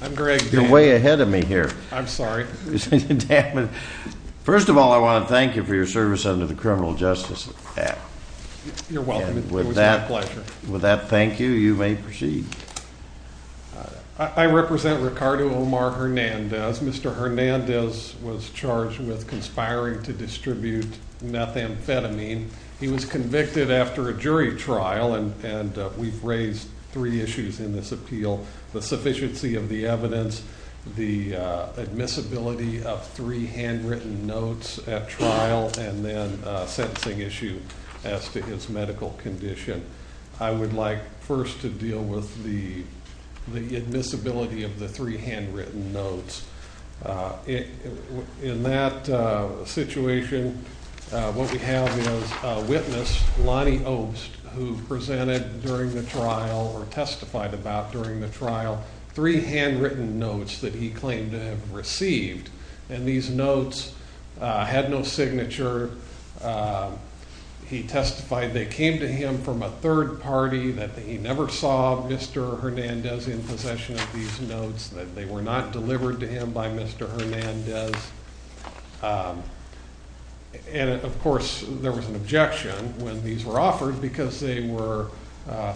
I'm Greg. You're way ahead of me here. I'm sorry. First of all, I want to thank you for your service under the Criminal Justice Act. You're welcome. It was my pleasure. With that thank you, you may proceed. I represent Ricardo Omar Hernandez. Mr. Hernandez was charged with conspiring to distribute methamphetamine. He was convicted after a jury trial, and we've raised three issues in this appeal. The sufficiency of the evidence, the admissibility of three handwritten notes at trial, and then a sentencing issue as to his medical condition. I would like first to deal with the admissibility of the three handwritten notes. In that situation, what we have is a witness, Lonnie Obst, who presented during the trial, or testified about during the trial, three handwritten notes that he claimed to have received. And these notes had no signature. He testified they came to him from a third party, that he never saw Mr. Hernandez in possession of these notes, that they were not delivered to him by Mr. Hernandez. And of course, there was an objection when these were offered because they were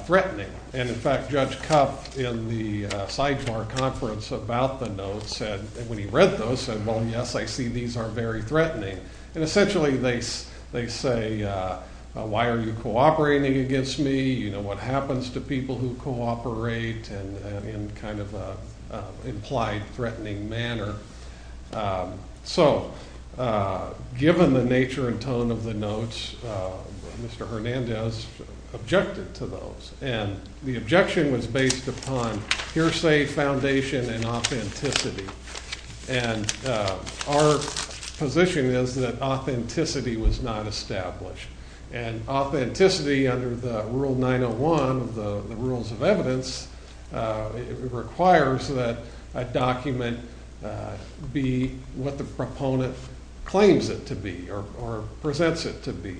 threatening. And in fact, Judge Kupf in the Seidmar Conference about the notes said, when he read those, said, well, yes, I see these are very threatening. And essentially, they say, why are you cooperating against me? What happens to people who cooperate in kind of an implied threatening manner? So, given the nature and tone of the notes, Mr. Hernandez objected to those. And the objection was based upon hearsay, foundation, and authenticity. And our position is that authenticity was not established. And authenticity, under the Rule 901 of the Rules of Evidence, requires that a document be what the proponent claims it to be, or presents it to be.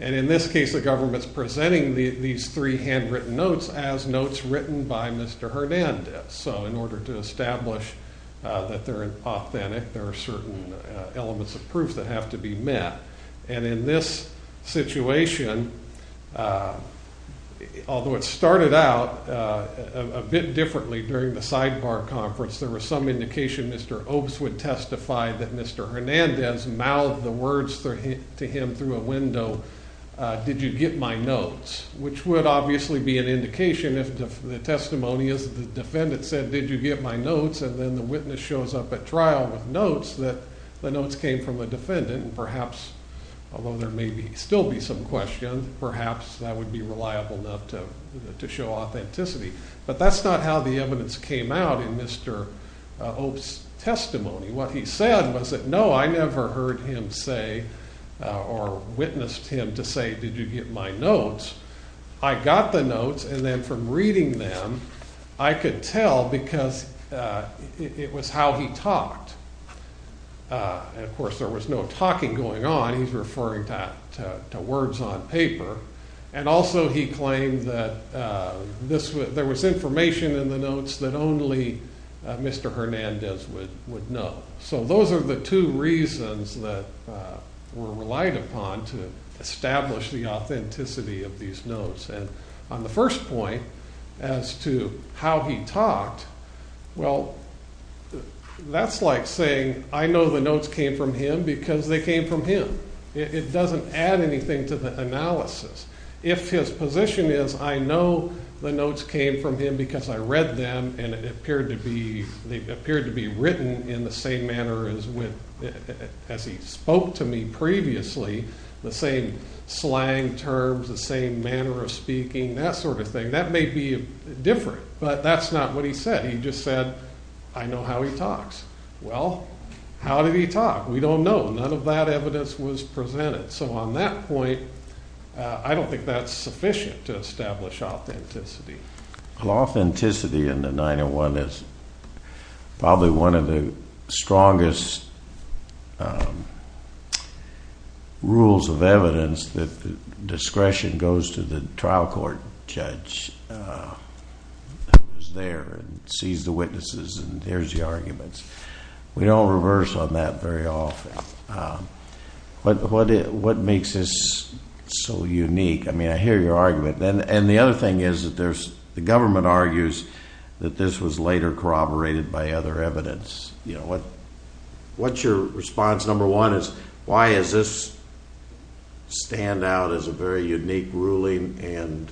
And in this case, the government's presenting these three handwritten notes as notes written by Mr. Hernandez. So, in order to establish that they're authentic, there are certain elements of proof that have to be met. And in this situation, although it started out a bit differently during the Seidmar Conference, there was some indication Mr. Obst would testify that Mr. Hernandez mouthed the words to him through a window, did you get my notes? Which would obviously be an indication if the testimony is that the defendant said, did you get my notes? And then the witness shows up at trial with notes that the notes came from the defendant. And perhaps, although there may still be some question, perhaps that would be reliable enough to show authenticity. But that's not how the evidence came out in Mr. Obst's testimony. What he said was that, no, I never heard him say, or witnessed him to say, did you get my notes? I got the notes, and then from reading them, I could tell because it was how he talked. And of course, there was no talking going on, he's referring to words on paper. And also he claimed that there was information in the notes that only Mr. Hernandez would know. So those are the two reasons that were relied upon to establish the authenticity of these notes. And on the first point, as to how he talked, well, that's like saying, I know the notes came from him because they came from him. It doesn't add anything to the analysis. If his position is, I know the notes came from him because I read them and they appeared to be written in the same manner as he spoke to me previously, the same slang terms, the same manner of speaking, that sort of thing, that may be different. But that's not what he said. He just said, I know how he talks. Well, how did he talk? We don't know. None of that evidence was presented. So on that point, I don't think that's sufficient to establish authenticity. Authenticity in the 901 is probably one of the strongest rules of evidence that discretion goes to the trial court judge who's there and sees the witnesses and hears the arguments. We don't reverse on that very often. What makes this so unique? I mean, I hear your argument. And the other thing is that the government argues that this was later corroborated by other evidence. What's your response? Number one is, why does this stand out as a very unique ruling and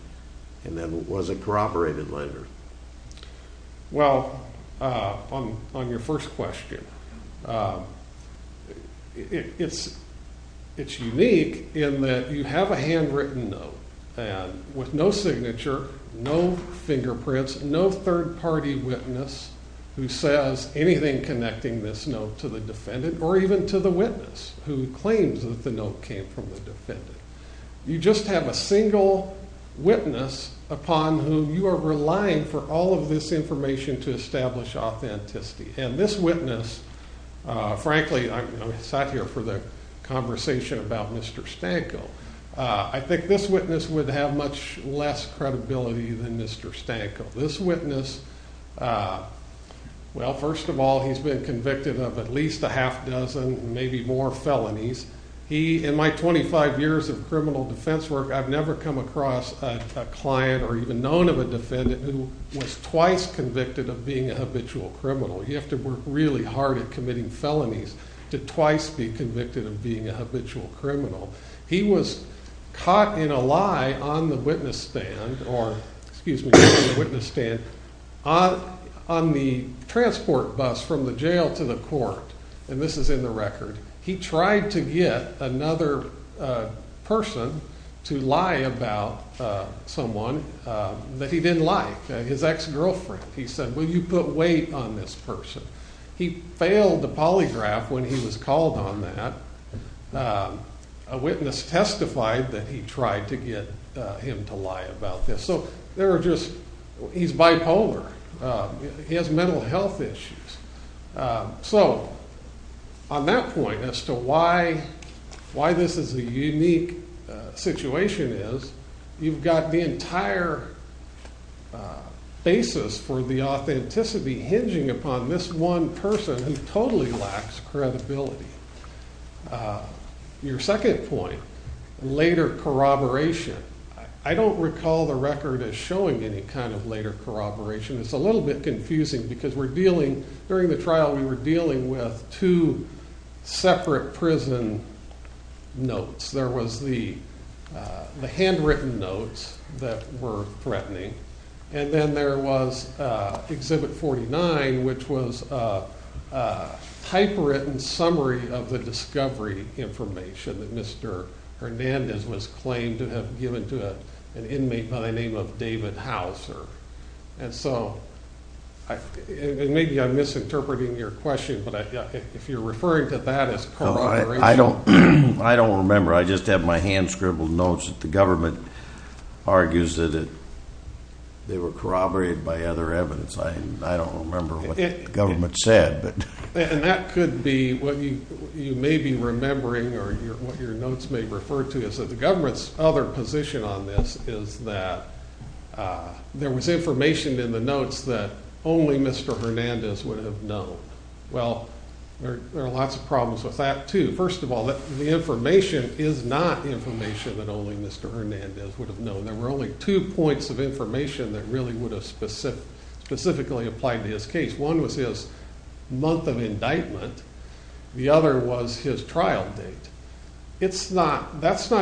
then was it corroborated later? Well, on your first question, it's unique in that you have a handwritten note with no signature, no fingerprints, no third party witness who says anything connecting this note to the defendant or even to the witness who claims that the note came from the defendant. You just have a single witness upon whom you are relying for all of this information to establish authenticity. And this witness, frankly, I'm sat here for the conversation about Mr. Stanko. I think this witness would have much less credibility than Mr. Stanko. This witness, well, first of all, he's been convicted of at least a half dozen, maybe more felonies. He, in my 25 years of criminal defense work, I've never come across a client or even known of a defendant who was twice convicted of being a habitual criminal. You have to work really hard at committing felonies to twice be convicted of being a habitual criminal. He was caught in a lie on the witness stand or, excuse me, on the witness stand, on the transport bus from the jail to the court. And this is in the record. He tried to get another person to lie about someone that he didn't like, his ex-girlfriend. He said, will you put weight on this person? He failed to polygraph when he was called on that. A witness testified that he tried to get him to lie about this. So there are just, he's bipolar. He has mental health issues. So on that point as to why this is a unique situation is you've got the entire basis for the authenticity hinging upon this one person who totally lacks credibility. Your second point, later corroboration. I don't recall the record as showing any kind of later corroboration. It's a little bit confusing because we're dealing, during the trial, we were dealing with two separate prison notes. There was the handwritten notes that were threatening. And then there was Exhibit 49, which was a typewritten summary of the discovery information that Mr. Hernandez was claimed to have given to an inmate by the name of David Hauser. And so, maybe I'm misinterpreting your question, but if you're referring to that as corroboration. I don't remember. I just have my hand scribbled notes that the government argues that they were corroborated by other evidence. I don't remember what the government said. And that could be what you may be remembering or what your notes may refer to is that the government's other position on this is that there was information in the notes that only Mr. Hernandez would have known. Well, there are lots of problems with that, too. First of all, the information is not information that only Mr. Hernandez would have known. There were only two points of information that really would have specifically applied to his case. One was his month of indictment. The other was his trial date. That's not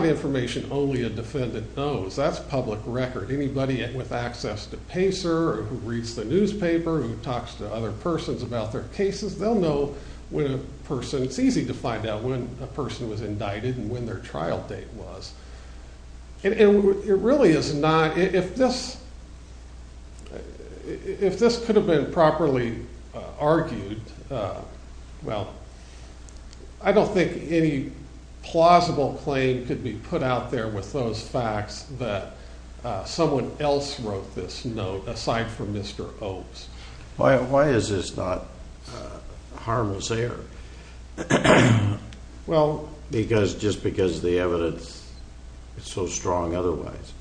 information only a defendant knows. That's public record. Anybody with access to Pacer, who reads the newspaper, who talks to other persons about their cases, they'll know when a person – it's easy to find out when a person was indicted and when their trial date was. It really is not – if this could have been properly argued, well, I don't think any plausible claim could be put out there with those facts that someone else wrote this note aside from Mr. Obes. Why is this not harmless error? Just because the evidence is so strong otherwise.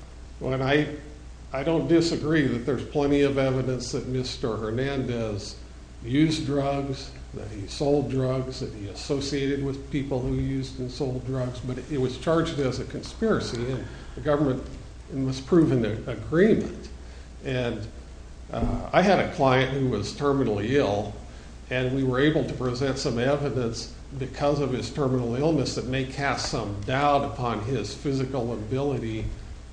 I don't disagree that there's plenty of evidence that Mr. Hernandez used drugs, that he sold drugs, that he associated with people who used and sold drugs, but it was charged as a conspiracy. The government must prove an agreement. And I had a client who was terminally ill, and we were able to present some evidence because of his terminal illness that may cast some doubt upon his physical ability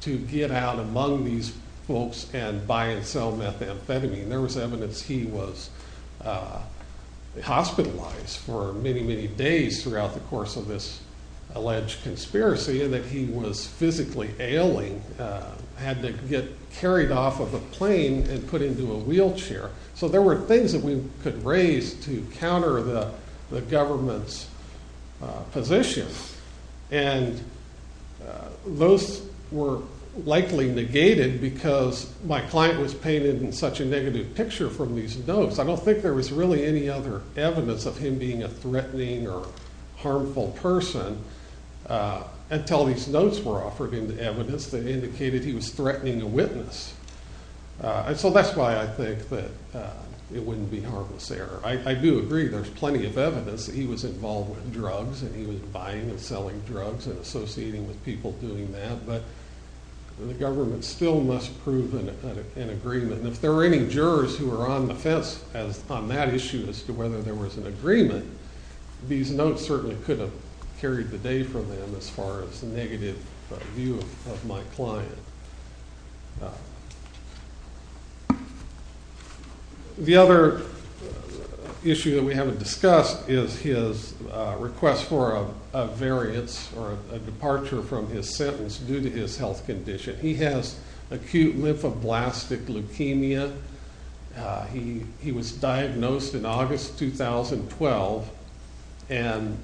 to get out among these folks and buy and sell methamphetamine. There was evidence he was hospitalized for many, many days throughout the course of this alleged conspiracy and that he was physically ailing, had to get carried off of a plane and put into a wheelchair. So there were things that we could raise to counter the government's position, and those were likely negated because my client was painted in such a negative picture from these notes. I don't think there was really any other evidence of him being a threatening or harmful person until these notes were offered him the evidence that indicated he was threatening a witness. So that's why I think that it wouldn't be harmless error. I do agree there's plenty of evidence that he was involved with drugs and he was buying and selling drugs and associating with people doing that, but the government still must prove an agreement. And if there were any jurors who were on the fence on that issue as to whether there was an agreement, these notes certainly could have carried the day for them as far as the negative view of my client. The other issue that we haven't discussed is his request for a variance or a departure from his sentence due to his health condition. He has acute lymphoblastic leukemia. He was diagnosed in August 2012 and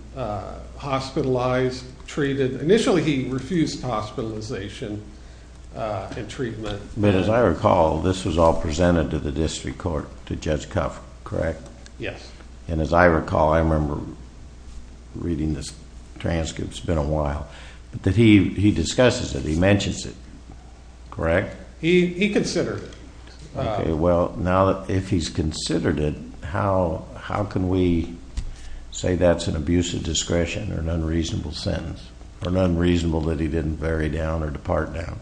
hospitalized, treated. Initially he refused hospitalization and treatment. But as I recall, this was all presented to the district court, to Judge Cuff, correct? Yes. And as I recall, I remember reading this transcript, it's been a while, that he discusses it, he mentions it, correct? He considered. Okay, well, now that if he's considered it, how can we say that's an abuse of discretion or an unreasonable sentence or an unreasonable that he didn't vary down or depart down?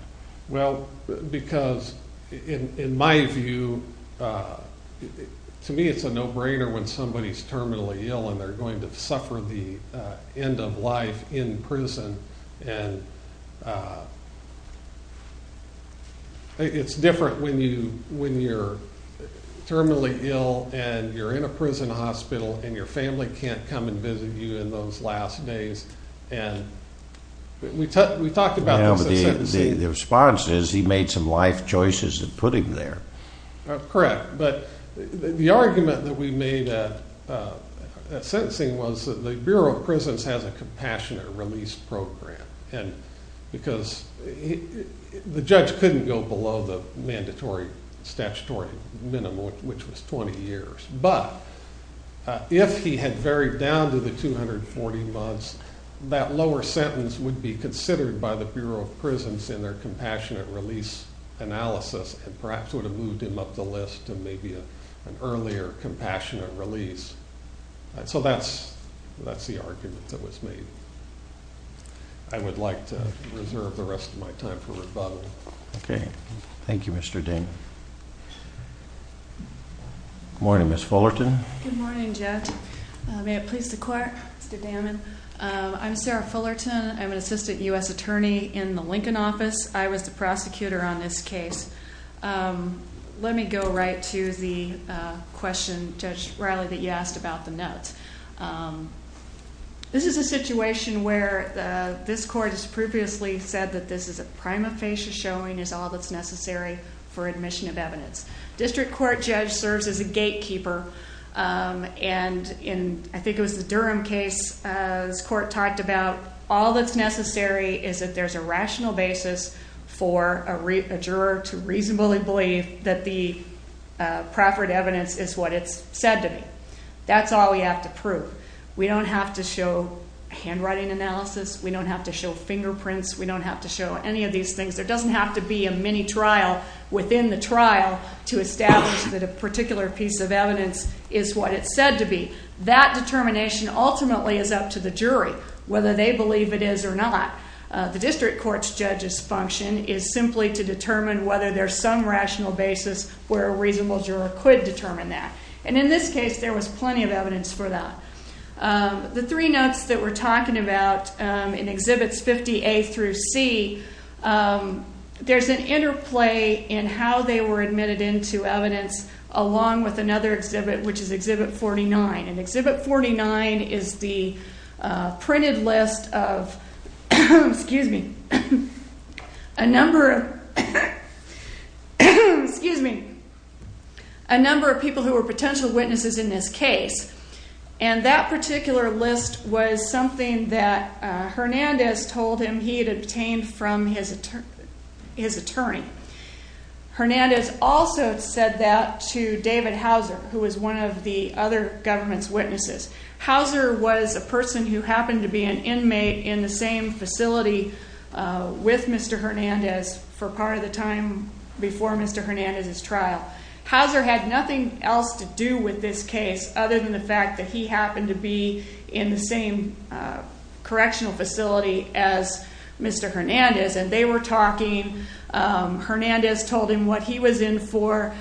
Well, because in my view, to me it's a no-brainer when somebody's terminally ill and they're going to suffer the end of life in prison. And it's different when you're terminally ill and you're in a prison hospital and your family can't come and visit you in those last days. And we talked about this in sentencing. The response is he made some life choices that put him there. Correct. But the argument that we made at sentencing was that the Bureau of Prisons has a compassionate release program. And because the judge couldn't go below the mandatory statutory minimum, which was 20 years. But if he had varied down to the 240 months, that lower sentence would be considered by the Bureau of Prisons in their compassionate release analysis and perhaps would have moved him up the list to maybe an earlier compassionate release. So that's the argument that was made. I would like to reserve the rest of my time for rebuttal. Okay. Thank you, Mr. Ding. Good morning, Ms. Fullerton. Good morning, Judge. May it please the court, Mr. Damon. I'm Sarah Fullerton. I'm an assistant U.S. attorney in the Lincoln office. I was the prosecutor on this case. Let me go right to the question, Judge Riley, that you asked about the notes. This is a situation where this court has previously said that this is a prima facie showing is all that's necessary for admission of evidence. District court judge serves as a gatekeeper. And in I think it was the Durham case, this court talked about all that's necessary is that there's a rational basis for a juror to reasonably believe that the proper evidence is what it's said to be. That's all we have to prove. We don't have to show handwriting analysis. We don't have to show fingerprints. We don't have to show any of these things. There doesn't have to be a mini trial within the trial to establish that a particular piece of evidence is what it's said to be. That determination ultimately is up to the jury, whether they believe it is or not. The district court judge's function is simply to determine whether there's some rational basis where a reasonable juror could determine that. And in this case, there was plenty of evidence for that. The three notes that we're talking about in Exhibits 50A through C, there's an interplay in how they were admitted into evidence along with another exhibit, which is Exhibit 49. And Exhibit 49 is the printed list of a number of people who were potential witnesses in this case. And that particular list was something that Hernandez told him he had obtained from his attorney. Hernandez also said that to David Houser, who was one of the other government's witnesses. Houser was a person who happened to be an inmate in the same facility with Mr. Hernandez for part of the time before Mr. Hernandez's trial. Houser had nothing else to do with this case other than the fact that he happened to be in the same correctional facility as Mr. Hernandez. And they were talking. Hernandez told him what he was in for.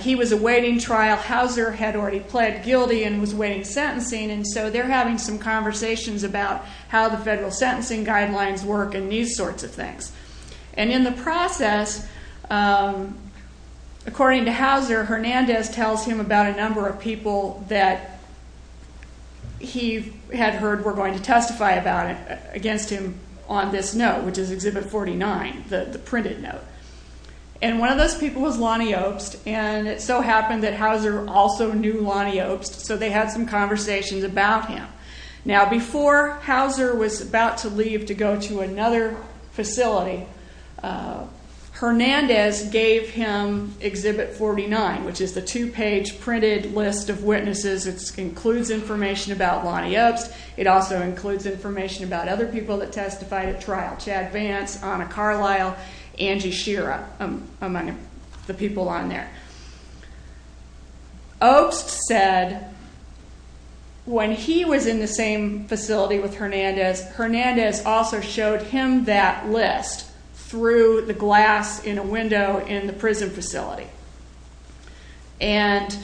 He was awaiting trial. Houser had already pled guilty and was awaiting sentencing. And so they're having some conversations about how the federal sentencing guidelines work and these sorts of things. And in the process, according to Houser, Hernandez tells him about a number of people that he had heard were going to testify against him on this note, which is Exhibit 49, the printed note. And one of those people was Lonnie Obst. And it so happened that Houser also knew Lonnie Obst, so they had some conversations about him. Now, before Houser was about to leave to go to another facility, Hernandez gave him Exhibit 49, which is the two-page printed list of witnesses. It includes information about Lonnie Obst. It also includes information about other people that testified at trial, Chad Vance, Ana Carlisle, Angie Shira, among the people on there. Obst said when he was in the same facility with Hernandez, Hernandez also showed him that list through the glass in a window in the prison facility. And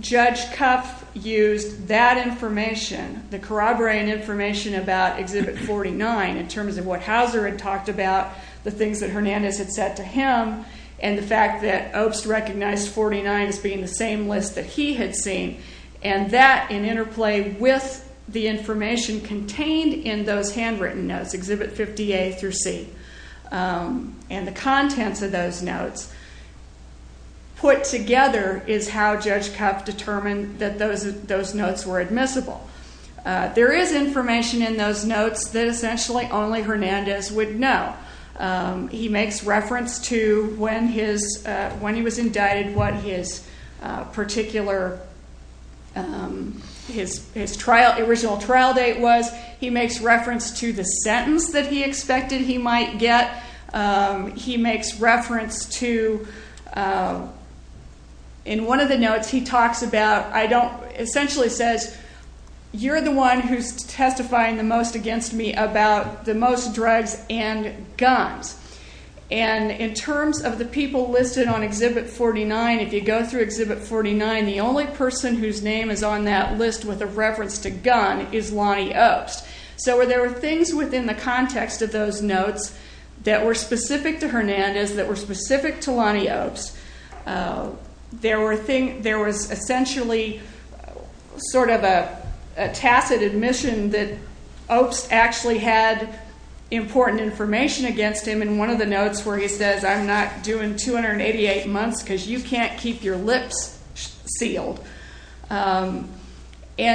Judge Cuff used that information, the corroborean information about Exhibit 49, in terms of what Houser had talked about, the things that Hernandez had said to him, and the fact that Obst recognized 49 as being the same list that he had seen. And that, in interplay with the information contained in those handwritten notes, Exhibit 58 through C, and the contents of those notes, put together is how Judge Cuff determined that those notes were admissible. There is information in those notes that essentially only Hernandez would know. He makes reference to when he was indicted, what his particular, his original trial date was. He makes reference to the sentence that he expected he might get. He makes reference to, in one of the notes he talks about, I don't, essentially says, you're the one who's testifying the most against me about the most drugs and guns. And in terms of the people listed on Exhibit 49, if you go through Exhibit 49, the only person whose name is on that list with a reference to gun is Lonnie Obst. So there were things within the context of those notes that were specific to Hernandez, that were specific to Lonnie Obst. There was essentially sort of a tacit admission that Obst actually had important information against him in one of the notes where he says, I'm not doing 288 months because you can't keep your lips sealed. And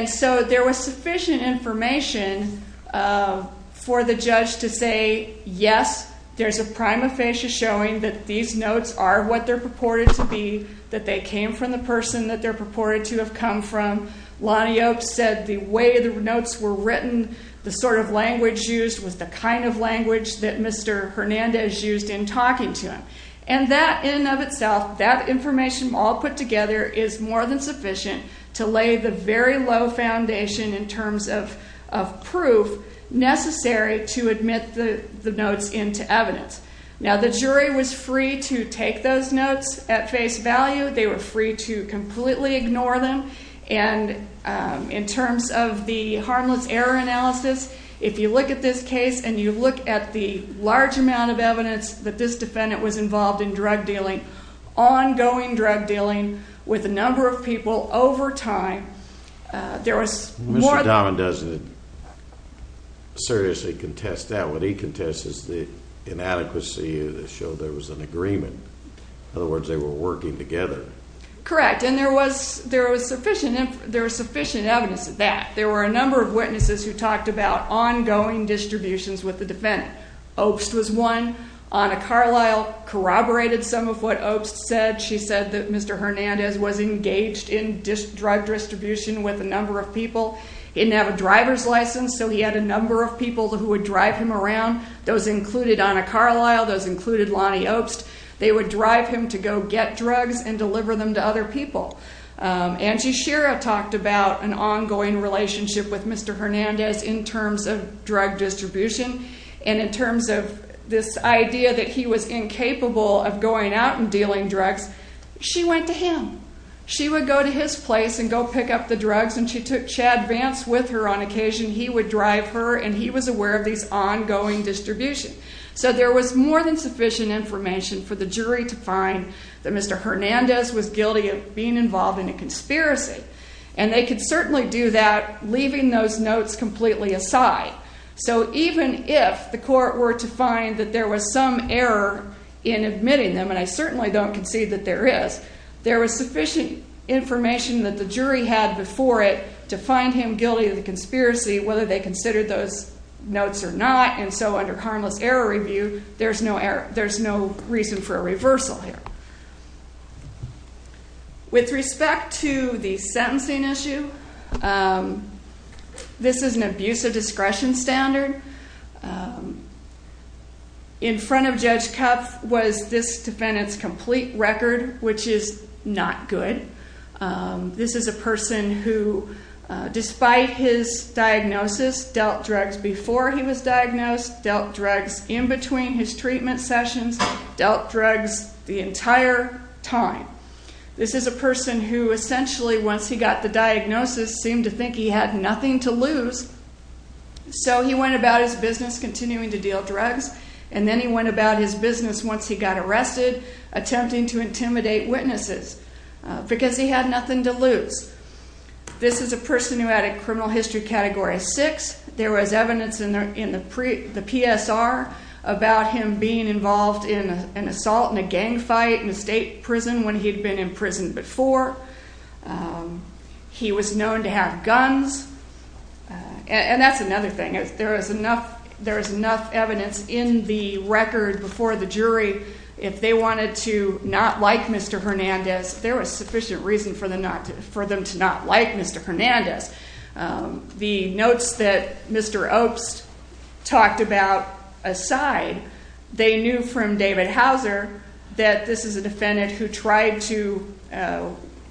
so there was sufficient information for the judge to say, yes, there's a prime aphasia showing that these notes are what they're purported to be, that they came from the person that they're purported to have come from. Lonnie Obst said the way the notes were written, the sort of language used, was the kind of language that Mr. Hernandez used in talking to him. And that in and of itself, that information all put together is more than sufficient to lay the very low foundation in terms of proof necessary to admit the notes into evidence. Now, the jury was free to take those notes at face value. They were free to completely ignore them. And in terms of the harmless error analysis, if you look at this case, and you look at the large amount of evidence that this defendant was involved in drug dealing, ongoing drug dealing with a number of people over time, there was more than... Mr. Dahman doesn't seriously contest that. What he contests is the inadequacy of the show. There was an agreement. In other words, they were working together. Correct, and there was sufficient evidence of that. There were a number of witnesses who talked about ongoing distributions with the defendant. Obst was one. Ana Carlyle corroborated some of what Obst said. She said that Mr. Hernandez was engaged in drug distribution with a number of people. He didn't have a driver's license, so he had a number of people who would drive him around. Those included Ana Carlyle. Those included Lonnie Obst. They would drive him to go get drugs and deliver them to other people. Angie Shira talked about an ongoing relationship with Mr. Hernandez in terms of drug distribution. And in terms of this idea that he was incapable of going out and dealing drugs, she went to him. She would go to his place and go pick up the drugs, and she took Chad Vance with her on occasion. He would drive her, and he was aware of these ongoing distributions. So there was more than sufficient information for the jury to find that Mr. Hernandez was guilty of being involved in a conspiracy. And they could certainly do that, leaving those notes completely aside. So even if the court were to find that there was some error in admitting them, and I certainly don't concede that there is, there was sufficient information that the jury had before it to find him guilty of the conspiracy, whether they considered those notes or not. And so under harmless error review, there's no reason for a reversal here. With respect to the sentencing issue, this is an abuse of discretion standard. In front of Judge Kupf was this defendant's complete record, which is not good. This is a person who, despite his diagnosis, dealt drugs before he was diagnosed, dealt drugs in between his treatment sessions, dealt drugs the entire time. This is a person who essentially, once he got the diagnosis, seemed to think he had nothing to lose. So he went about his business, continuing to deal drugs, and then he went about his business once he got arrested, attempting to intimidate witnesses because he had nothing to lose. This is a person who had a criminal history Category 6. There was evidence in the PSR about him being involved in an assault and a gang fight in a state prison when he had been in prison before. He was known to have guns, and that's another thing. There is enough evidence in the record before the jury. If they wanted to not like Mr. Hernandez, there was sufficient reason for them to not like Mr. Hernandez. The notes that Mr. Obst talked about aside, they knew from David Hauser that this is a defendant who tried to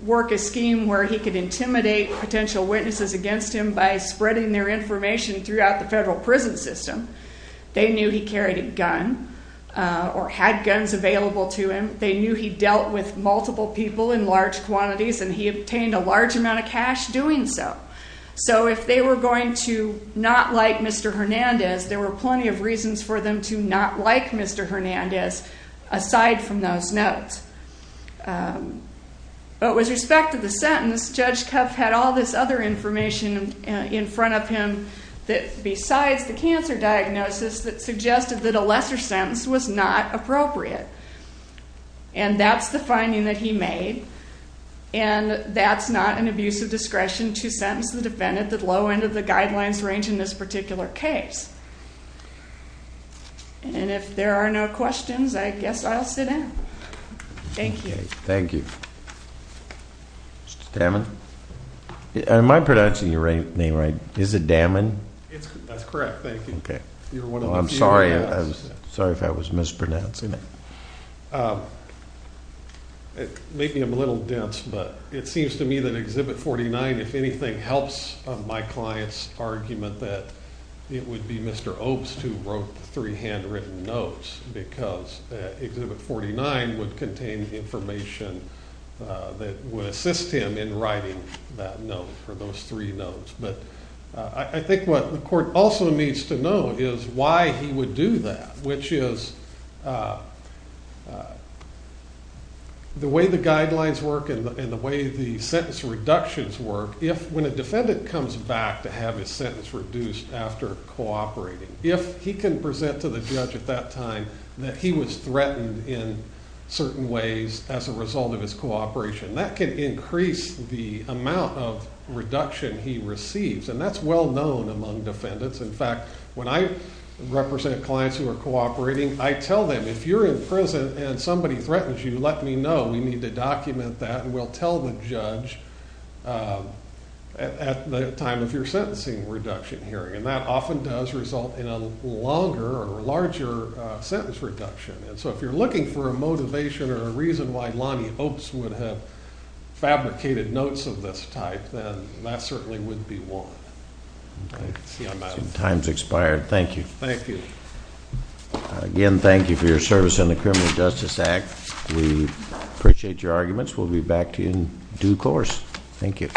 work a scheme where he could intimidate potential witnesses against him by spreading their information throughout the federal prison system. They knew he carried a gun or had guns available to him. They knew he dealt with multiple people in large quantities, and he obtained a large amount of cash doing so. So if they were going to not like Mr. Hernandez, there were plenty of reasons for them to not like Mr. Hernandez aside from those notes. But with respect to the sentence, Judge Koeff had all this other information in front of him besides the cancer diagnosis that suggested that a lesser sentence was not appropriate. And that's the finding that he made, and that's not an abuse of discretion to sentence the defendant that low end of the guidelines range in this particular case. And if there are no questions, I guess I'll sit down. Thank you. Mr. Damman? Am I pronouncing your name right? Is it Damman? That's correct, thank you. I'm sorry if I was mispronouncing it. Maybe I'm a little dense, but it seems to me that Exhibit 49, if anything, helps my client's argument that it would be Mr. Obst who wrote the three handwritten notes because Exhibit 49 would contain information that would assist him in writing that note for those three notes. But I think what the court also needs to know is why he would do that, which is the way the guidelines work and the way the sentence reductions work, if when a defendant comes back to have his sentence reduced after cooperating, if he can present to the judge at that time that he was threatened in certain ways as a result of his cooperation, that can increase the amount of reduction he receives. And that's well known among defendants. In fact, when I represent clients who are cooperating, I tell them, if you're in prison and somebody threatens you, let me know. We need to document that, and we'll tell the judge at the time of your sentencing reduction hearing. And that often does result in a longer or larger sentence reduction. And so if you're looking for a motivation or a reason why Lonnie Obst would have fabricated notes of this type, then that certainly would be warranted. Time's expired. Thank you. Thank you. Again, thank you for your service in the Criminal Justice Act. We appreciate your arguments. We'll be back in due course. Thank you.